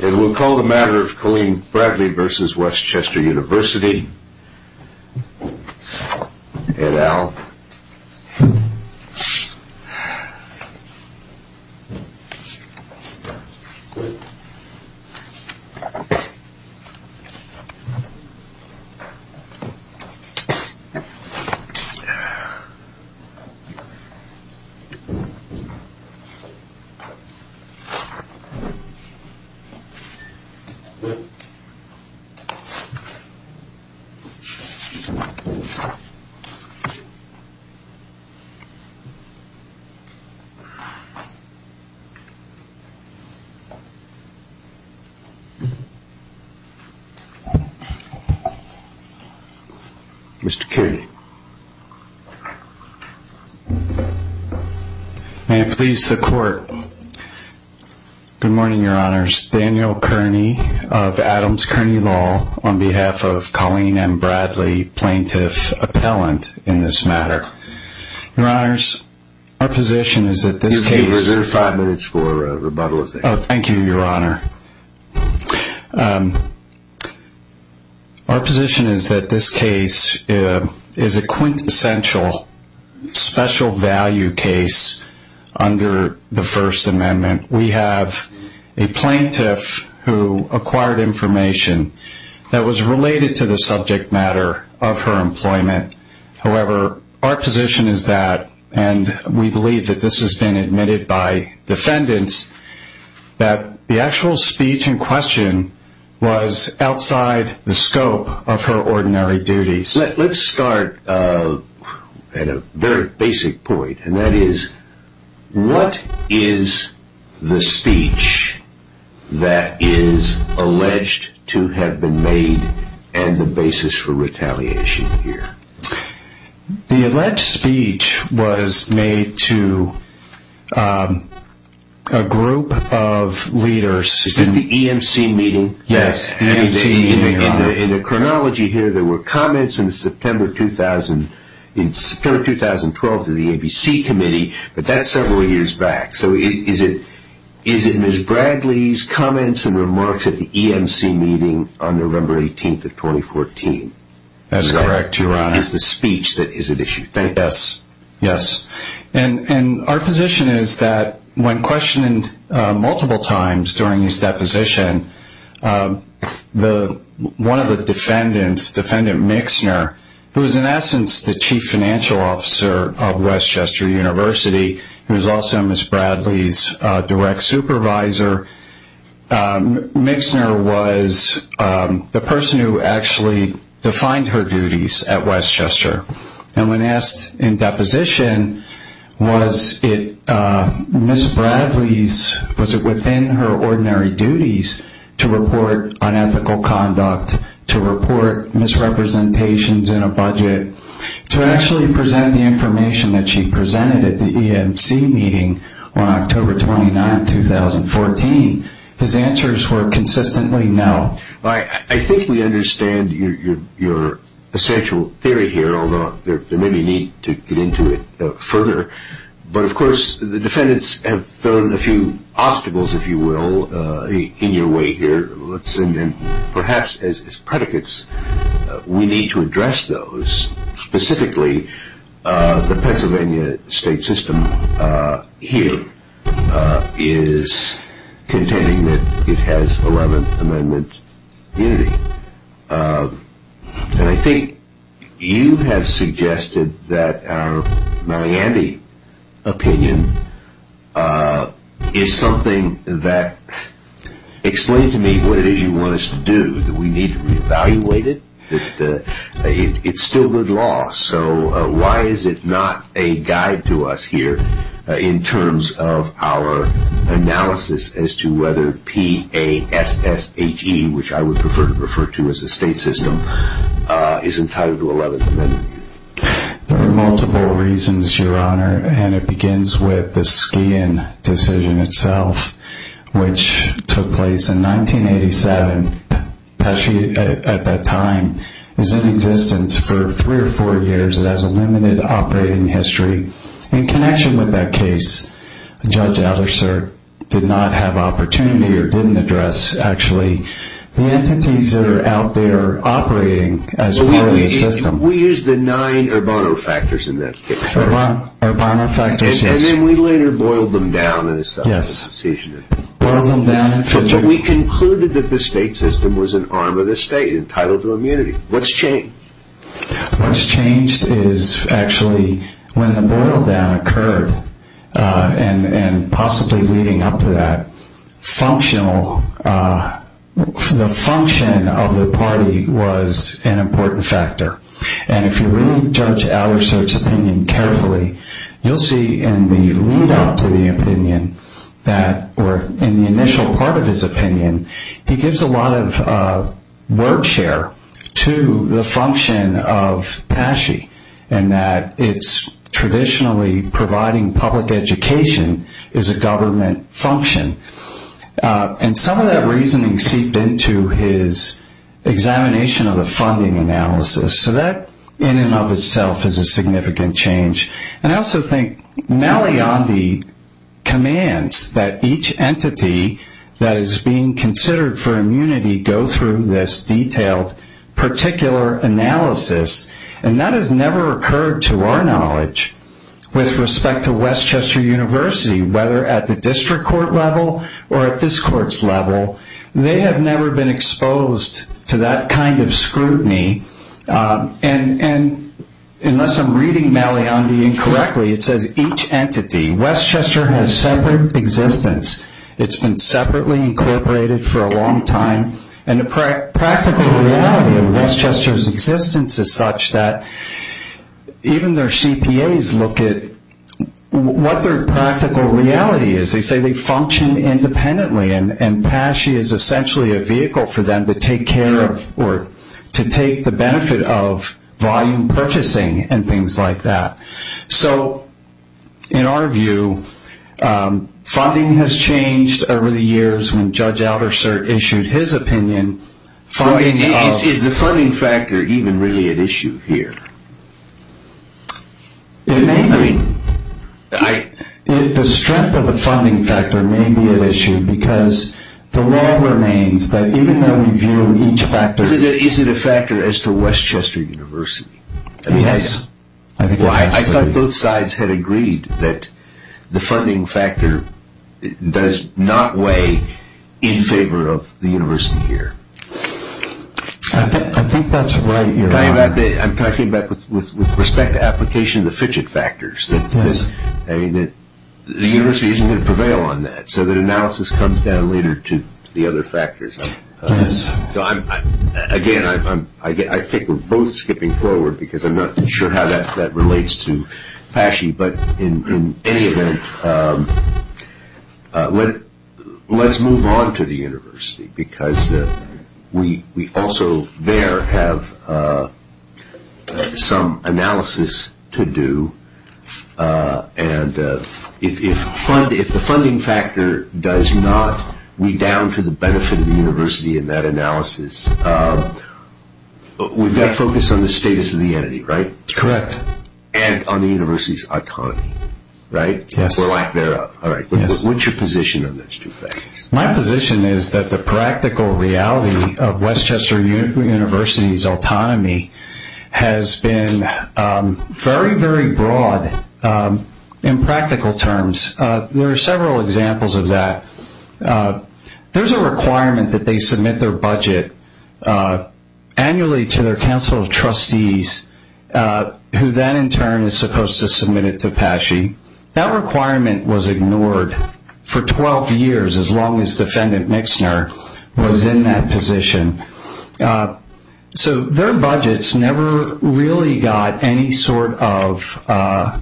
It will call the matter of Colleen Bradley v. West Chester University, et al. Mr. Kerry May it please the court, Daniel Kearney of Adams Kearney Law on behalf of Colleen M. Bradley plaintiff appellant in this matter. Your Honor, our position is that this case is a quintessential special value case under the First Amendment. We have a plaintiff who acquired information that was related to the subject matter of her employment. However, our position is that, and we believe that this has been admitted by defendants, that the actual speech in question was outside the scope of her ordinary duties. Let's start at a very basic point, and that is, what is the speech that is alleged to have been made and the basis for retaliation here? The alleged speech was made to a group of leaders. Is this the EMC meeting? Yes. In the chronology here, there were comments in September 2012 to the ABC committee, but that's several years back. So is it Ms. Bradley's comments and remarks at the EMC meeting on November 18th of 2014? That is correct, Your Honor. Is the speech that is at issue? Yes. And our position is that when questioned multiple times during this deposition, one of the defendants, Defendant Mixner, who is in essence the chief financial officer of Westchester University, who is also Ms. Bradley's direct supervisor, Mixner was the person who actually defined her duties at Westchester. And when asked in deposition, was it Ms. Bradley's, was it within her ordinary duties to report unethical conduct, to report misrepresentations in a budget, to actually present the information that she presented at the EMC meeting on October 29th, 2014, his answers were consistently no. I think we understand your essential theory here, although there may be a need to get into it further. But, of course, the defendants have thrown a few obstacles, if you will, in your way here. And perhaps as predicates, we need to address those. Specifically, the Pennsylvania state system here is contending that it has 11th Amendment unity. And I think you have suggested that our Miami opinion is something that, explain to me what it is you want us to do, that we need to reevaluate it, that it's still good law. So why is it not a guide to us here in terms of our analysis as to whether P-A-S-S-H-E, which I would prefer to refer to as the state system, is entitled to 11th Amendment unity? There are multiple reasons, Your Honor. And it begins with the Ski Inn decision itself, which took place in 1987. Pesci, at that time, was in existence for three or four years. It has a limited operating history. In connection with that case, Judge Adler, sir, did not have opportunity or didn't address, actually, the entities that are out there operating as part of the system. We used the nine Urbano factors in that case. Urbano factors, yes. And then we later boiled them down in a subsequent decision. Boiled them down. But we concluded that the state system was an arm of the state, entitled to immunity. What's changed? What's changed is actually when the boil down occurred, and possibly leading up to that, the function of the party was an important factor. And if you read Judge Adler, sir,'s opinion carefully, you'll see in the lead up to the opinion, or in the initial part of his opinion, he gives a lot of word share to the function of Pesci, and that it's traditionally providing public education as a government function. And some of that reasoning seeped into his examination of the funding analysis. So that, in and of itself, is a significant change. And I also think Maliandi commands that each entity that is being considered for immunity go through this detailed particular analysis. And that has never occurred, to our knowledge, with respect to Westchester University, whether at the district court level or at this court's level. They have never been exposed to that kind of scrutiny. And unless I'm reading Maliandi incorrectly, it says each entity. Westchester has separate existence. It's been separately incorporated for a long time. And the practical reality of Westchester's existence is such that even their CPAs look at what their practical reality is. They say they function independently, and Pesci is essentially a vehicle for them to take care of or to take the benefit of volume purchasing and things like that. So, in our view, funding has changed over the years when Judge Alderser issued his opinion. Is the funding factor even really at issue here? It may be. The strength of the funding factor may be at issue because the law remains that even though we view each factor... Is it a factor as to Westchester University? Yes. I thought both sides had agreed that the funding factor does not weigh in favor of the university here. I think that's right. Can I come back with respect to application of the fidget factors? Yes. The university isn't going to prevail on that, so that analysis comes down later to the other factors. Again, I think we're both skipping forward because I'm not sure how that relates to Pesci, but in any event, let's move on to the university because we also there have some analysis to do. If the funding factor does not weigh down to the benefit of the university in that analysis, we've got to focus on the status of the entity, right? Correct. And on the university's autonomy, right? Yes. Or lack thereof. What's your position on those two factors? My position is that the practical reality of Westchester University's autonomy has been very, very broad in practical terms. There are several examples of that. There's a requirement that they submit their budget annually to their council of trustees, who then in turn is supposed to submit it to Pesci. That requirement was ignored for 12 years, as long as defendant Mixner was in that position. So their budgets never really got any sort of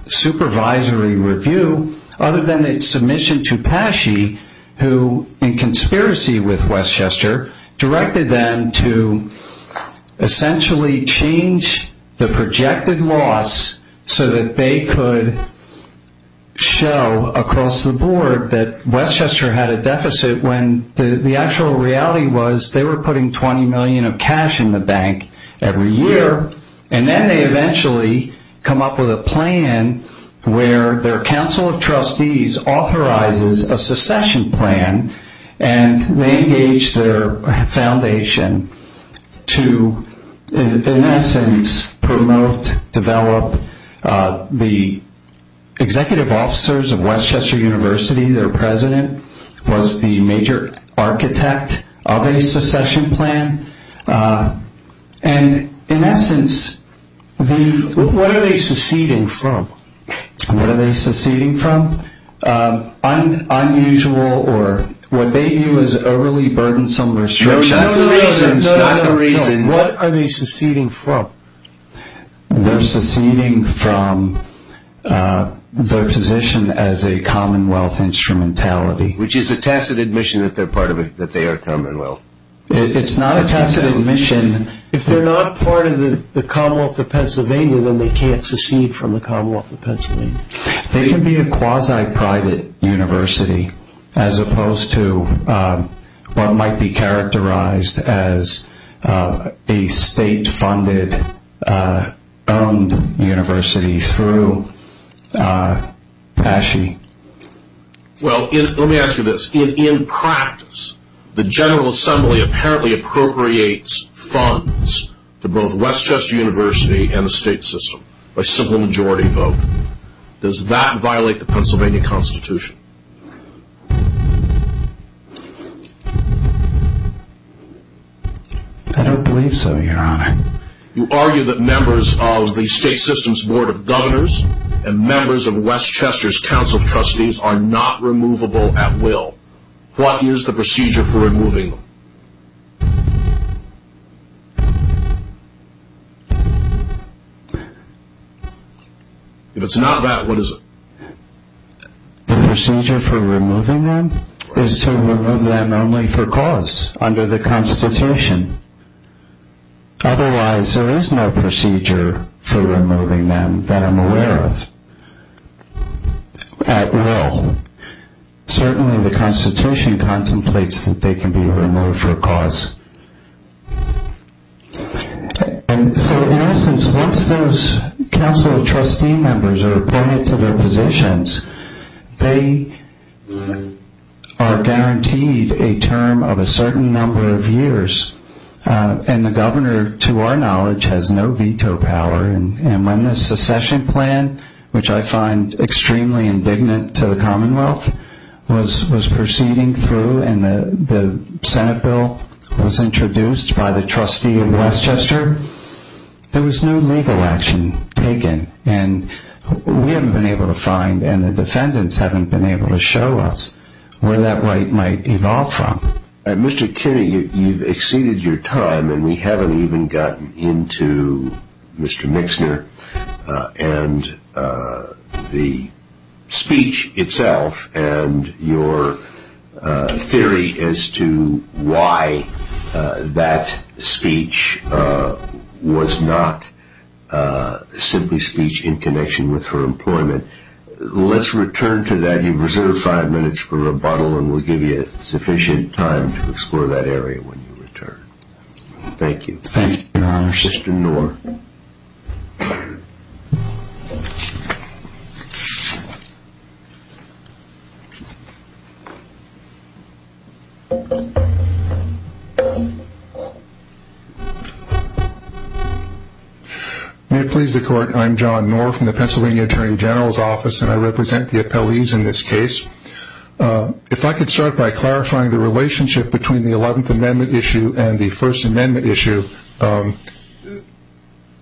supervisory review, other than its submission to Pesci, who in conspiracy with Westchester, directed them to essentially change the projected loss so that they could show across the board that Westchester had a deficit, when the actual reality was they were putting $20 million of cash in the bank every year. And then they eventually come up with a plan where their council of trustees authorizes a secession plan, and they engage their foundation to, in essence, promote, develop the executive officers of Westchester University. Their president was the major architect of a secession plan. And in essence, what are they seceding from? What are they seceding from? Unusual or what they view as overly burdensome restrictions. No, no, no. Not the reasons. What are they seceding from? They're seceding from their position as a commonwealth instrumentality. Which is a tacit admission that they are commonwealth. It's not a tacit admission. If they're not part of the commonwealth of Pennsylvania, then they can't secede from the commonwealth of Pennsylvania. They can be a quasi-private university, as opposed to what might be characterized as a state-funded, owned university through Pesci. Well, let me ask you this. In practice, the General Assembly apparently appropriates funds to both Westchester University and the state system. By simple majority vote. Does that violate the Pennsylvania Constitution? I don't believe so, your honor. You argue that members of the state system's board of governors and members of Westchester's council of trustees are not removable at will. What is the procedure for removing them? If it's not that, what is it? The procedure for removing them is to remove them only for cause under the Constitution. Otherwise, there is no procedure for removing them that I'm aware of. At will. Certainly the Constitution contemplates that they can be removed for a cause. In essence, once those council of trustee members are appointed to their positions, they are guaranteed a term of a certain number of years. The governor, to our knowledge, has no veto power. And when the secession plan, which I find extremely indignant to the Commonwealth, was proceeding through and the Senate bill was introduced by the trustee of Westchester, there was no legal action taken. And we haven't been able to find, and the defendants haven't been able to show us, where that right might evolve from. Mr. Kennedy, you've exceeded your time and we haven't even gotten into Mr. Mixner and the speech itself and your theory as to why that speech was not simply speech in connection with her employment. Let's return to that. You've reserved five minutes for rebuttal and we'll give you sufficient time to explore that area when you return. Thank you. Thank you, Your Honor. Mr. Knorr. May it please the Court. I'm John Knorr from the Pennsylvania Attorney General's Office and I represent the appellees in this case. If I could start by clarifying the relationship between the Eleventh Amendment issue and the First Amendment issue.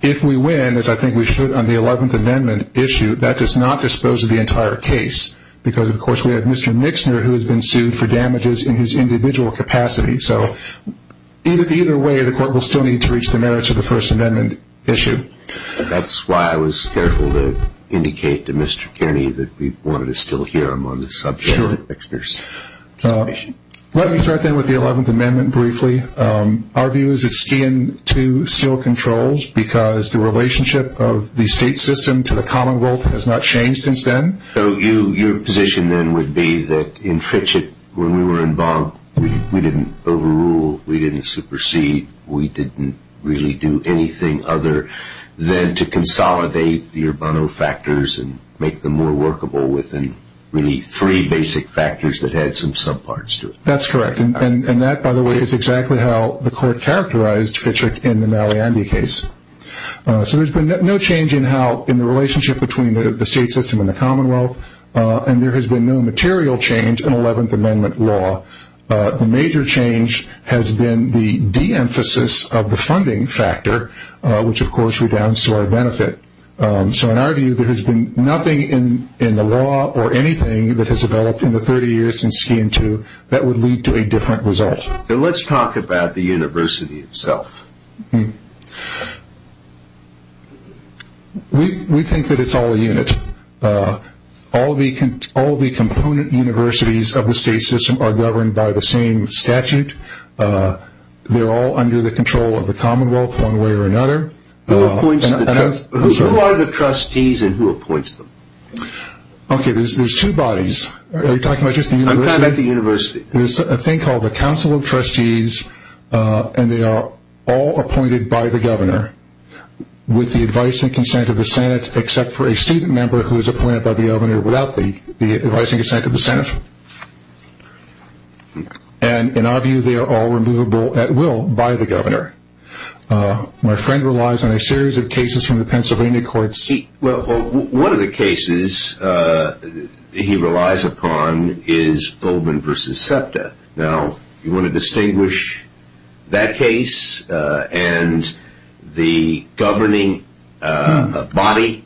If we win, as I think we should on the Eleventh Amendment issue, that does not dispose of the entire case because, of course, we have Mr. Mixner who has been sued for damages in his individual capacity. So either way, the Court will still need to reach the merits of the First Amendment issue. That's why I was careful to indicate to Mr. Kennedy that we wanted to still hear him on this subject. Sure. Let me start then with the Eleventh Amendment briefly. Our view is it's still in two still controls because the relationship of the state system to the commonwealth has not changed since then. So your position then would be that in Fitchett, when we were involved, we didn't overrule, we didn't supersede, we didn't really do anything other than to consolidate the Urbano factors and make them more workable within really three basic factors that had some subparts to it. That's correct. And that, by the way, is exactly how the Court characterized Fitchett in the Maliandi case. So there's been no change in the relationship between the state system and the commonwealth, and there has been no material change in Eleventh Amendment law. The major change has been the de-emphasis of the funding factor, which, of course, redounds to our benefit. So in our view, there has been nothing in the law or anything that has developed in the 30 years since Skian II that would lead to a different result. Now let's talk about the university itself. We think that it's all a unit. All the component universities of the state system are governed by the same statute. They're all under the control of the commonwealth one way or another. Who are the trustees and who appoints them? Okay, there's two bodies. Are you talking about just the university? I'm talking about the university. There's a thing called the Council of Trustees, and they are all appointed by the governor with the advice and consent of the Senate, except for a student member who is appointed by the governor without the advice and consent of the Senate. And in our view, they are all removable at will by the governor. My friend relies on a series of cases from the Pennsylvania court seat. Well, one of the cases he relies upon is Goldman v. SEPTA. Now, you want to distinguish that case and the governing body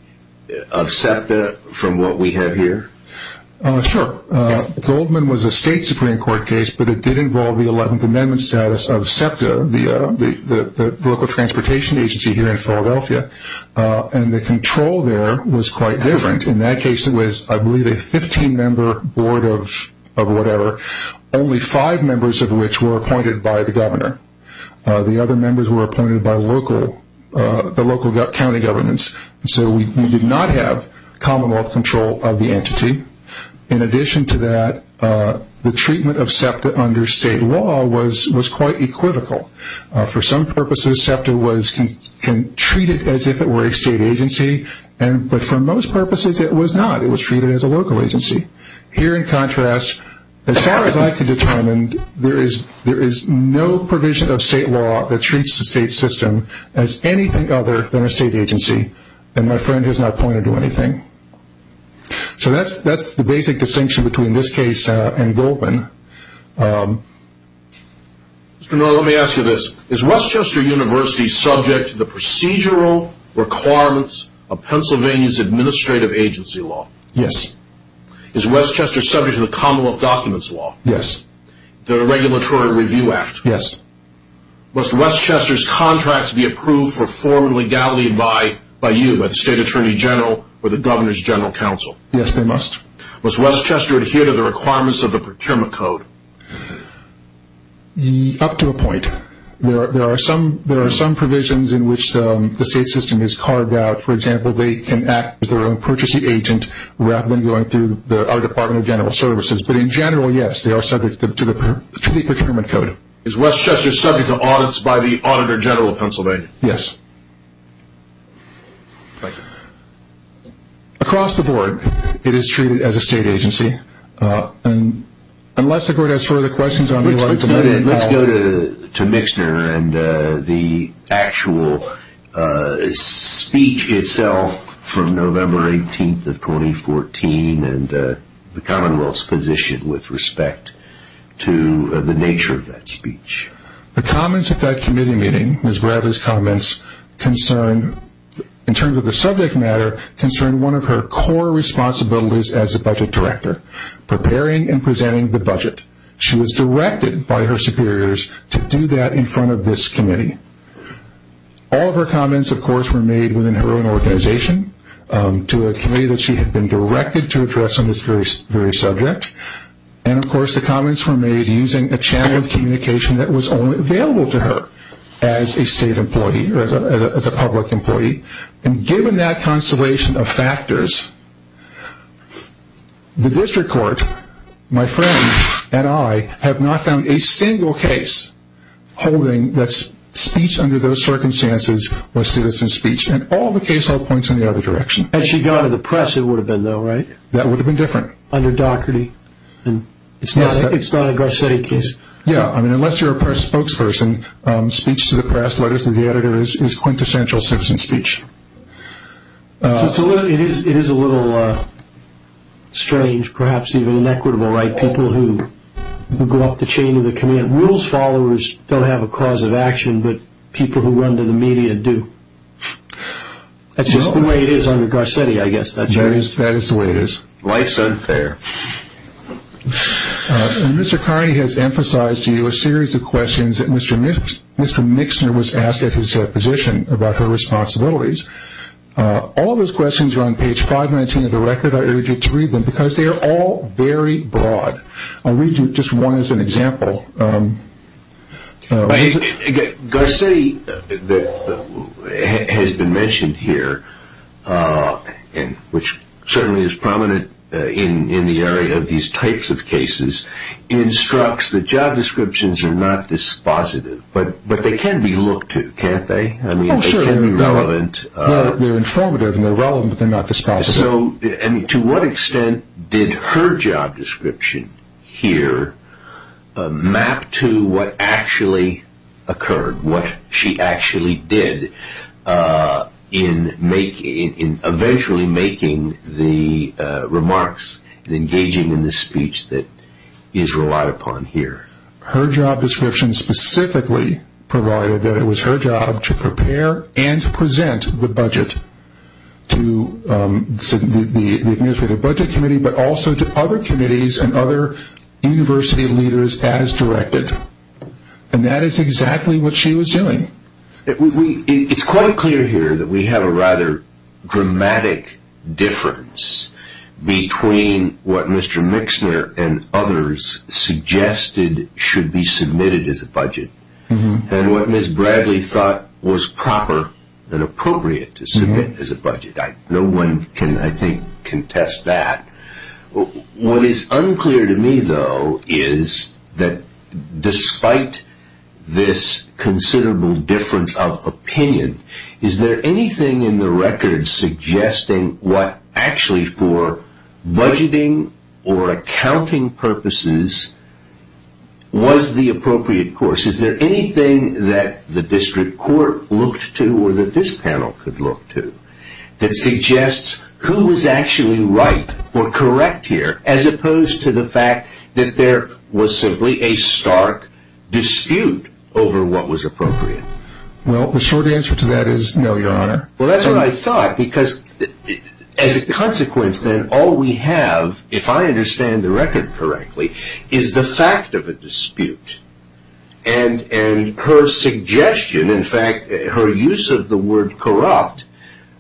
of SEPTA from what we have here? Sure. Goldman was a state Supreme Court case, but it did involve the 11th Amendment status of SEPTA, the local transportation agency here in Philadelphia, and the control there was quite different. In that case, it was, I believe, a 15-member board of whatever, only five members of which were appointed by the governor. The other members were appointed by the local county governments. So we did not have commonwealth control of the entity. In addition to that, the treatment of SEPTA under state law was quite equivocal. For some purposes, SEPTA was treated as if it were a state agency, but for most purposes, it was not. It was treated as a local agency. Here, in contrast, as far as I can determine, there is no provision of state law that treats the state system as anything other than a state agency, and my friend has not pointed to anything. So that's the basic distinction between this case and Goldman. Mr. Norris, let me ask you this. Is West Chester University subject to the procedural requirements of Pennsylvania's administrative agency law? Yes. Is West Chester subject to the commonwealth documents law? Yes. The Regulatory Review Act? Yes. Must West Chester's contracts be approved for formal legality by you, the State Attorney General, or the Governor's General Counsel? Yes, they must. Must West Chester adhere to the requirements of the procurement code? Up to a point. There are some provisions in which the state system is carved out. For example, they can act as their own purchasing agent rather than going through our Department of General Services. But in general, yes, they are subject to the procurement code. Thank you. Is West Chester subject to audits by the Auditor General of Pennsylvania? Yes. Thank you. Across the board, it is treated as a state agency. Unless the board has further questions, I would like to let you know. Let's go to Mixner and the actual speech itself from November 18th of 2014 and the commonwealth's position with respect to the nature of that speech. The comments at that committee meeting, Ms. Bradley's comments, in terms of the subject matter, concerned one of her core responsibilities as a budget director, preparing and presenting the budget. She was directed by her superiors to do that in front of this committee. All of her comments, of course, were made within her own organization to a committee that she had been directed to address on this very subject. And, of course, the comments were made using a channel of communication that was only available to her as a state employee, as a public employee. And given that constellation of factors, the district court, my friend and I, have not found a single case holding that speech under those circumstances was citizen speech. And all the case hold points in the other direction. Had she gone to the press, it would have been though, right? That would have been different. Under Doherty. It's not a Garcetti case. Yeah. I mean, unless you're a press spokesperson, speech to the press letters to the editor is quintessential citizen speech. It is a little strange, perhaps even inequitable, right? People who go up the chain of the command. Rules followers don't have a cause of action, but people who run to the media do. That's just the way it is under Garcetti, I guess. That is the way it is. Life's unfair. Mr. Carney has emphasized to you a series of questions that Mr. Mixner was asked at his position about her responsibilities. All of those questions are on page 519 of the record. I urge you to read them because they are all very broad. I'll read just one as an example. Garcetti has been mentioned here, which certainly is prominent in the area of these types of cases, instructs that job descriptions are not dispositive, but they can be looked to, can't they? I mean, they can be relevant. They're informative and they're relevant, but they're not dispositive. To what extent did her job description here map to what actually occurred, what she actually did in eventually making the remarks and engaging in the speech that is relied upon here? Her job description specifically provided that it was her job to prepare and present the budget to the Administrative Budget Committee, but also to other committees and other university leaders as directed. And that is exactly what she was doing. It's quite clear here that we have a rather dramatic difference between what Mr. Mixner and what Ms. Bradley thought was proper and appropriate to submit as a budget. No one can, I think, contest that. What is unclear to me, though, is that despite this considerable difference of opinion, is there anything in the record suggesting what actually for budgeting or accounting purposes was the appropriate course? Is there anything that the district court looked to or that this panel could look to that suggests who was actually right or correct here, as opposed to the fact that there was simply a stark dispute over what was appropriate? Well, the short answer to that is no, Your Honor. Well, that's what I thought, because as a consequence then, all we have, if I understand the record correctly, is the fact of a dispute. And her suggestion, in fact, her use of the word corrupt,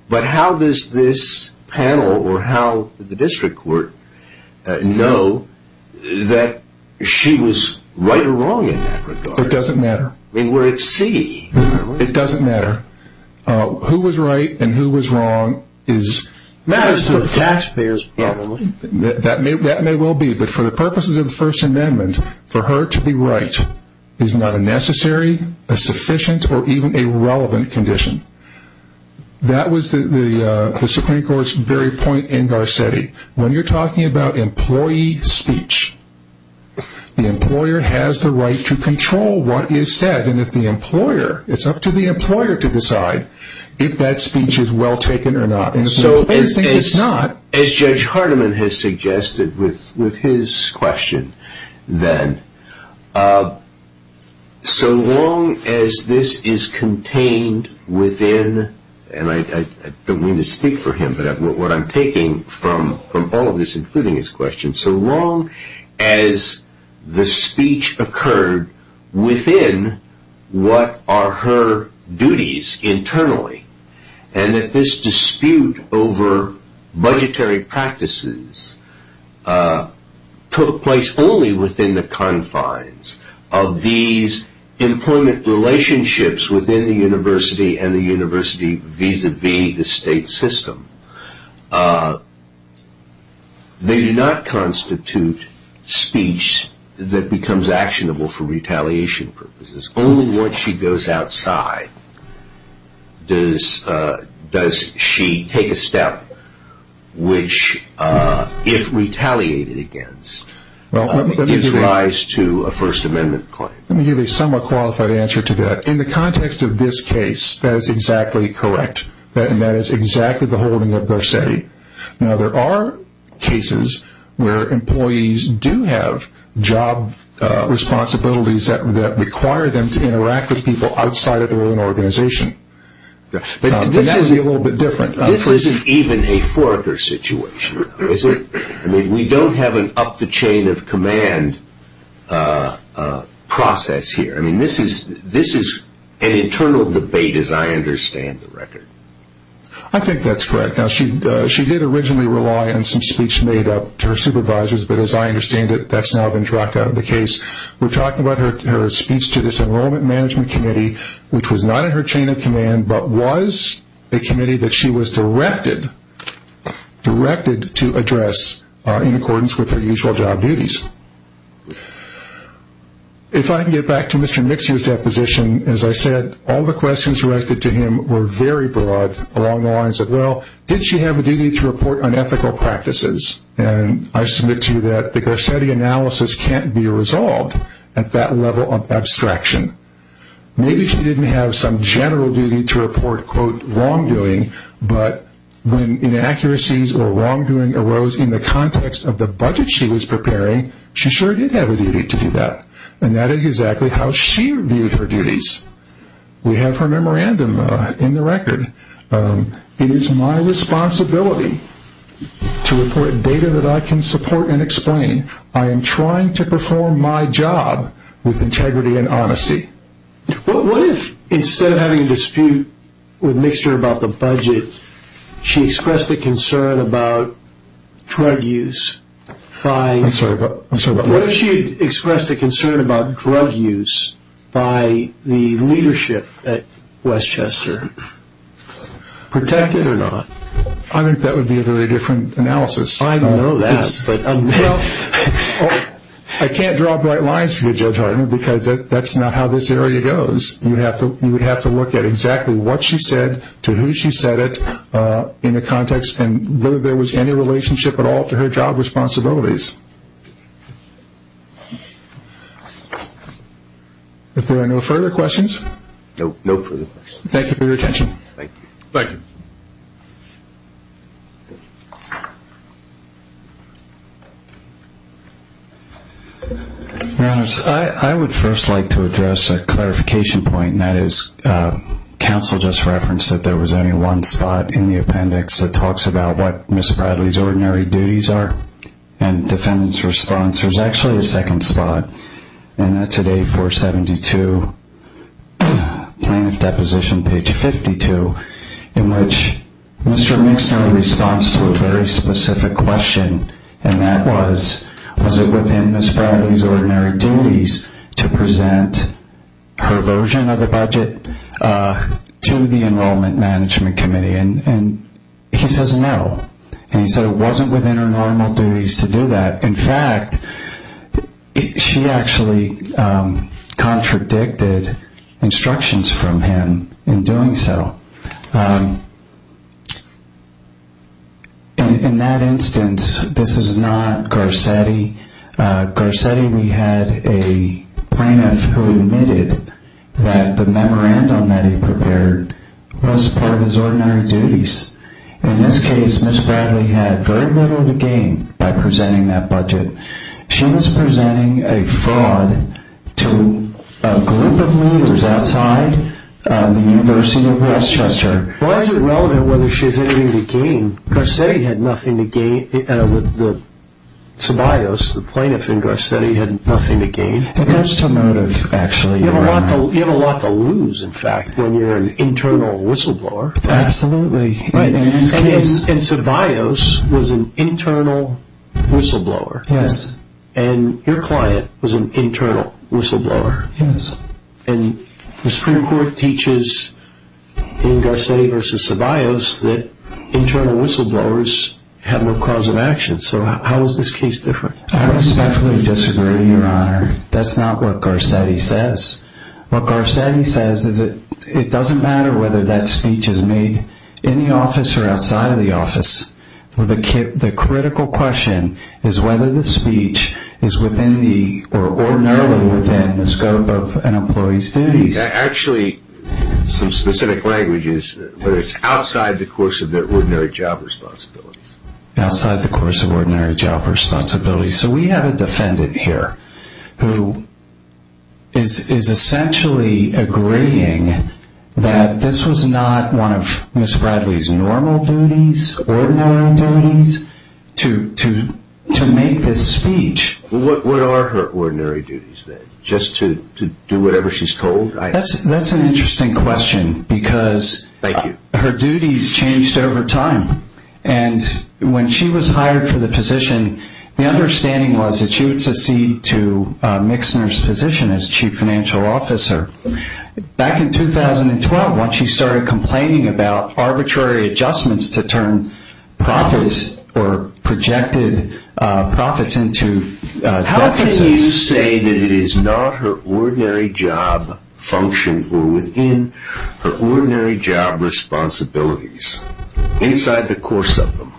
but how does this panel or how the district court know that she was right or wrong in that regard? It doesn't matter. I mean, we're at C. It doesn't matter. Who was right and who was wrong is matters to the taxpayers, probably. That may well be. But for the purposes of the First Amendment, for her to be right is not a necessary, a sufficient, or even a relevant condition. That was the Supreme Court's very point in Garcetti. When you're talking about employee speech, the employer has the right to control what is said. And if the employer, it's up to the employer to decide if that speech is well taken or not. And the Supreme Court thinks it's not. As Judge Hardiman has suggested with his question then, so long as this is contained within, and I don't mean to speak for him, but what I'm taking from all of this, including his question, so long as the speech occurred within what are her duties internally, and that this dispute over budgetary practices took place only within the confines of these employment relationships within the university and the university vis-a-vis the state system, they do not constitute speech that becomes actionable for retaliation purposes. Only once she goes outside does she take a step which, if retaliated against, gives rise to a First Amendment claim. Let me give a somewhat qualified answer to that. In the context of this case, that is exactly correct. That is exactly the holding of Garcetti. Now, there are cases where employees do have job responsibilities that require them to interact with people outside of their own organization. But that is a little bit different. This isn't even a forger situation, is it? I mean, we don't have an up-the-chain-of-command process here. I mean, this is an internal debate, as I understand the record. I think that's correct. Now, she did originally rely on some speech made up to her supervisors, but as I understand it, that's now been dropped out of the case. We're talking about her speech to this Enrollment Management Committee, which was not in her chain of command, but was a committee that she was directed to address in accordance with her usual job duties. If I can get back to Mr. Mixer's deposition, as I said, all the questions directed to him were very broad along the lines of, well, did she have a duty to report on ethical practices? And I submit to you that the Garcetti analysis can't be resolved at that level of abstraction. Maybe she didn't have some general duty to report, quote, wrongdoing, but when inaccuracies or wrongdoing arose in the context of the budget she was preparing, she sure did have a duty to do that, and that is exactly how she viewed her duties. We have her memorandum in the record. It is my responsibility to report data that I can support and explain. I am trying to perform my job with integrity and honesty. What if instead of having a dispute with Mixer about the budget, she expressed a concern about drug use? I'm sorry. What if she expressed a concern about drug use by the leadership at Westchester? Protected or not? I think that would be a very different analysis. I know that. Well, I can't draw bright lines for you, Judge Hartman, because that's not how this area goes. You would have to look at exactly what she said, to who she said it, in the context, and whether there was any relationship at all to her job responsibilities. If there are no further questions. No further questions. Thank you for your attention. Thank you. Thank you. Your Honors, I would first like to address a clarification point, and that is counsel just referenced that there was only one spot in the appendix that talks about what Ms. Bradley's ordinary duties are and defendant's response. There's actually a second spot, and that's at A472, plaintiff deposition page 52, in which Mr. Mixner responds to a very specific question, and that was, was it within Ms. Bradley's ordinary duties to present her version of the budget to the Enrollment Management Committee? And he says no, and he said it wasn't within her normal duties to do that. In fact, she actually contradicted instructions from him in doing so. In that instance, this is not Garcetti. Garcetti, we had a plaintiff who admitted that the memorandum that he prepared was part of his ordinary duties. In this case, Ms. Bradley had very little to gain by presenting that budget. She was presenting a fraud to a group of leaders outside the University of Westchester. Why is it relevant whether she has anything to gain? Garcetti had nothing to gain. The sobrios, the plaintiff in Garcetti, had nothing to gain. It comes to motive, actually. You have a lot to lose, in fact, when you're an internal whistleblower. Absolutely. Right. And sobrios was an internal whistleblower. Yes. And your client was an internal whistleblower. Yes. And the Supreme Court teaches in Garcetti v. Sobrios that internal whistleblowers have no cause of action. So how is this case different? I would especially disagree, Your Honor. That's not what Garcetti says. What Garcetti says is it doesn't matter whether that speech is made in the office or outside of the office. The critical question is whether the speech is within the or ordinarily within the scope of an employee's duties. Actually, some specific language is whether it's outside the course of their ordinary job responsibilities. Outside the course of ordinary job responsibilities. So we have a defendant here who is essentially agreeing that this was not one of Ms. Bradley's normal duties, ordinary duties, to make this speech. What are her ordinary duties then? Just to do whatever she's told? That's an interesting question because her duties changed over time. And when she was hired for the position, the understanding was that she would secede to Mixner's position as chief financial officer. Back in 2012, when she started complaining about arbitrary adjustments to turn profits or projected profits into duties. How can you say that it is not her ordinary job functions or within her ordinary job responsibilities? Inside the course of them.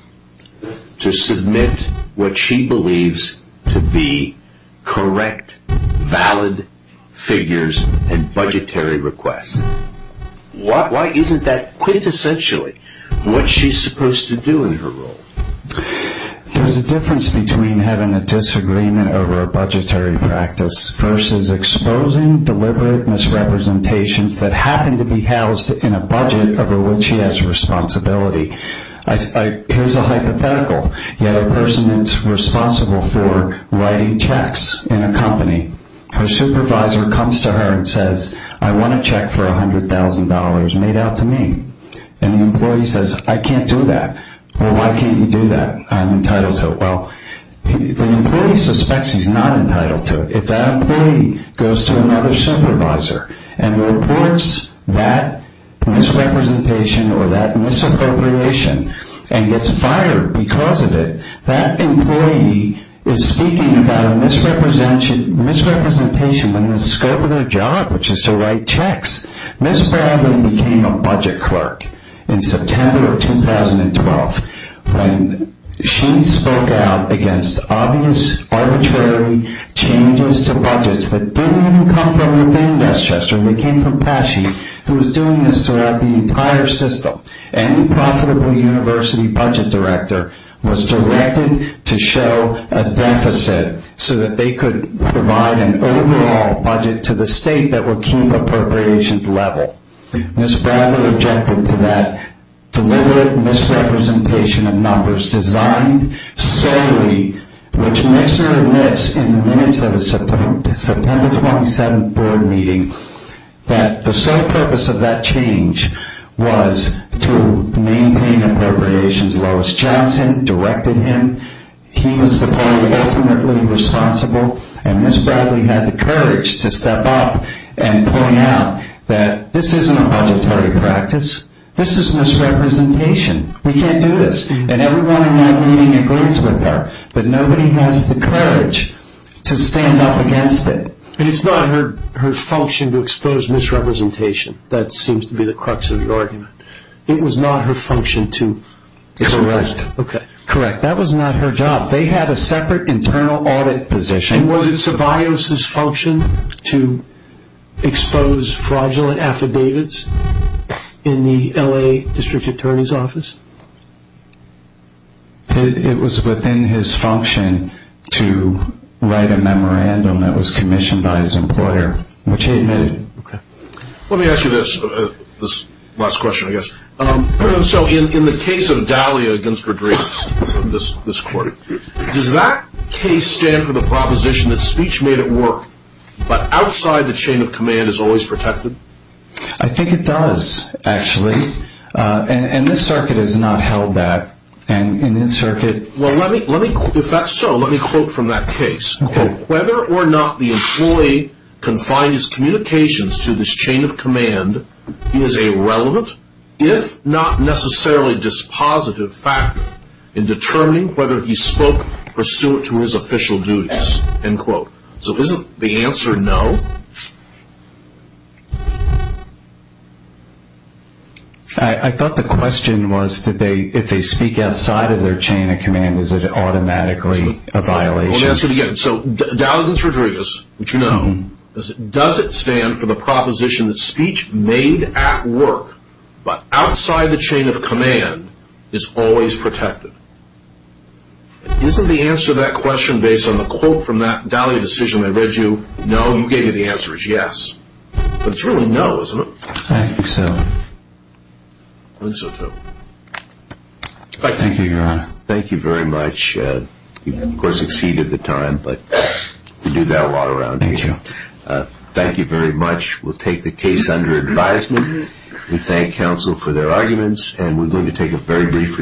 To submit what she believes to be correct, valid figures and budgetary requests. Why isn't that quintessentially what she's supposed to do in her role? There's a difference between having a disagreement over a budgetary practice versus exposing deliberate misrepresentations that happen to be housed in a budget over which she has responsibility. Here's a hypothetical. You have a person that's responsible for writing checks in a company. Her supervisor comes to her and says, I want a check for $100,000 made out to me. And the employee says, I can't do that. Well, why can't you do that? I'm entitled to it. Well, the employee suspects he's not entitled to it. If that employee goes to another supervisor and reports that misrepresentation or that misappropriation and gets fired because of it, that employee is speaking about a misrepresentation in the scope of their job, which is to write checks. Ms. Bradley became a budget clerk in September of 2012 when she spoke out against obvious arbitrary changes to budgets that didn't even come from within Westchester. They came from PASHE, who was doing this throughout the entire system. Any profitable university budget director was directed to show a deficit so that they could provide an overall budget to the state that would keep appropriations level. Ms. Bradley objected to that deliberate misrepresentation of numbers designed solely, which makes her admit in the minutes of a September 27th board meeting that the sole purpose of that change was to maintain appropriations. Lois Johnson directed him. He was the party ultimately responsible. And Ms. Bradley had the courage to step up and point out that this isn't a budgetary practice. This is misrepresentation. We can't do this. And everyone in that meeting agrees with her. But nobody has the courage to stand up against it. And it's not her function to expose misrepresentation. That seems to be the crux of the argument. It was not her function to correct. Correct. That was not her job. They had a separate internal audit position. And was it Tobias's function to expose fraudulent affidavits in the L.A. district attorney's office? It was within his function to write a memorandum that was commissioned by his employer, which he admitted. Let me ask you this last question, I guess. So in the case of Dahlia against Rodriguez, this court, does that case stand for the proposition that speech made it work, but outside the chain of command is always protected? I think it does, actually. And this circuit has not held that. Well, if that's so, let me quote from that case. Whether or not the employee confined his communications to this chain of command is a relevant, if not necessarily dispositive factor in determining whether he spoke pursuant to his official duties, end quote. So isn't the answer no? I thought the question was if they speak outside of their chain of command, is it automatically a violation? Let me answer it again. So Dahlia against Rodriguez, which you know, does it stand for the proposition that speech made at work, but outside the chain of command, is always protected? Isn't the answer to that question based on the quote from that Dahlia decision? I read you no. You gave me the answer is yes. But it's really no, isn't it? I think so. I think so, too. Thank you, Your Honor. Thank you very much. You, of course, exceeded the time, but we do that a lot around here. Thank you. Thank you very much. We'll take the case under advisement. We thank counsel for their arguments, and we're going to take a very brief recess.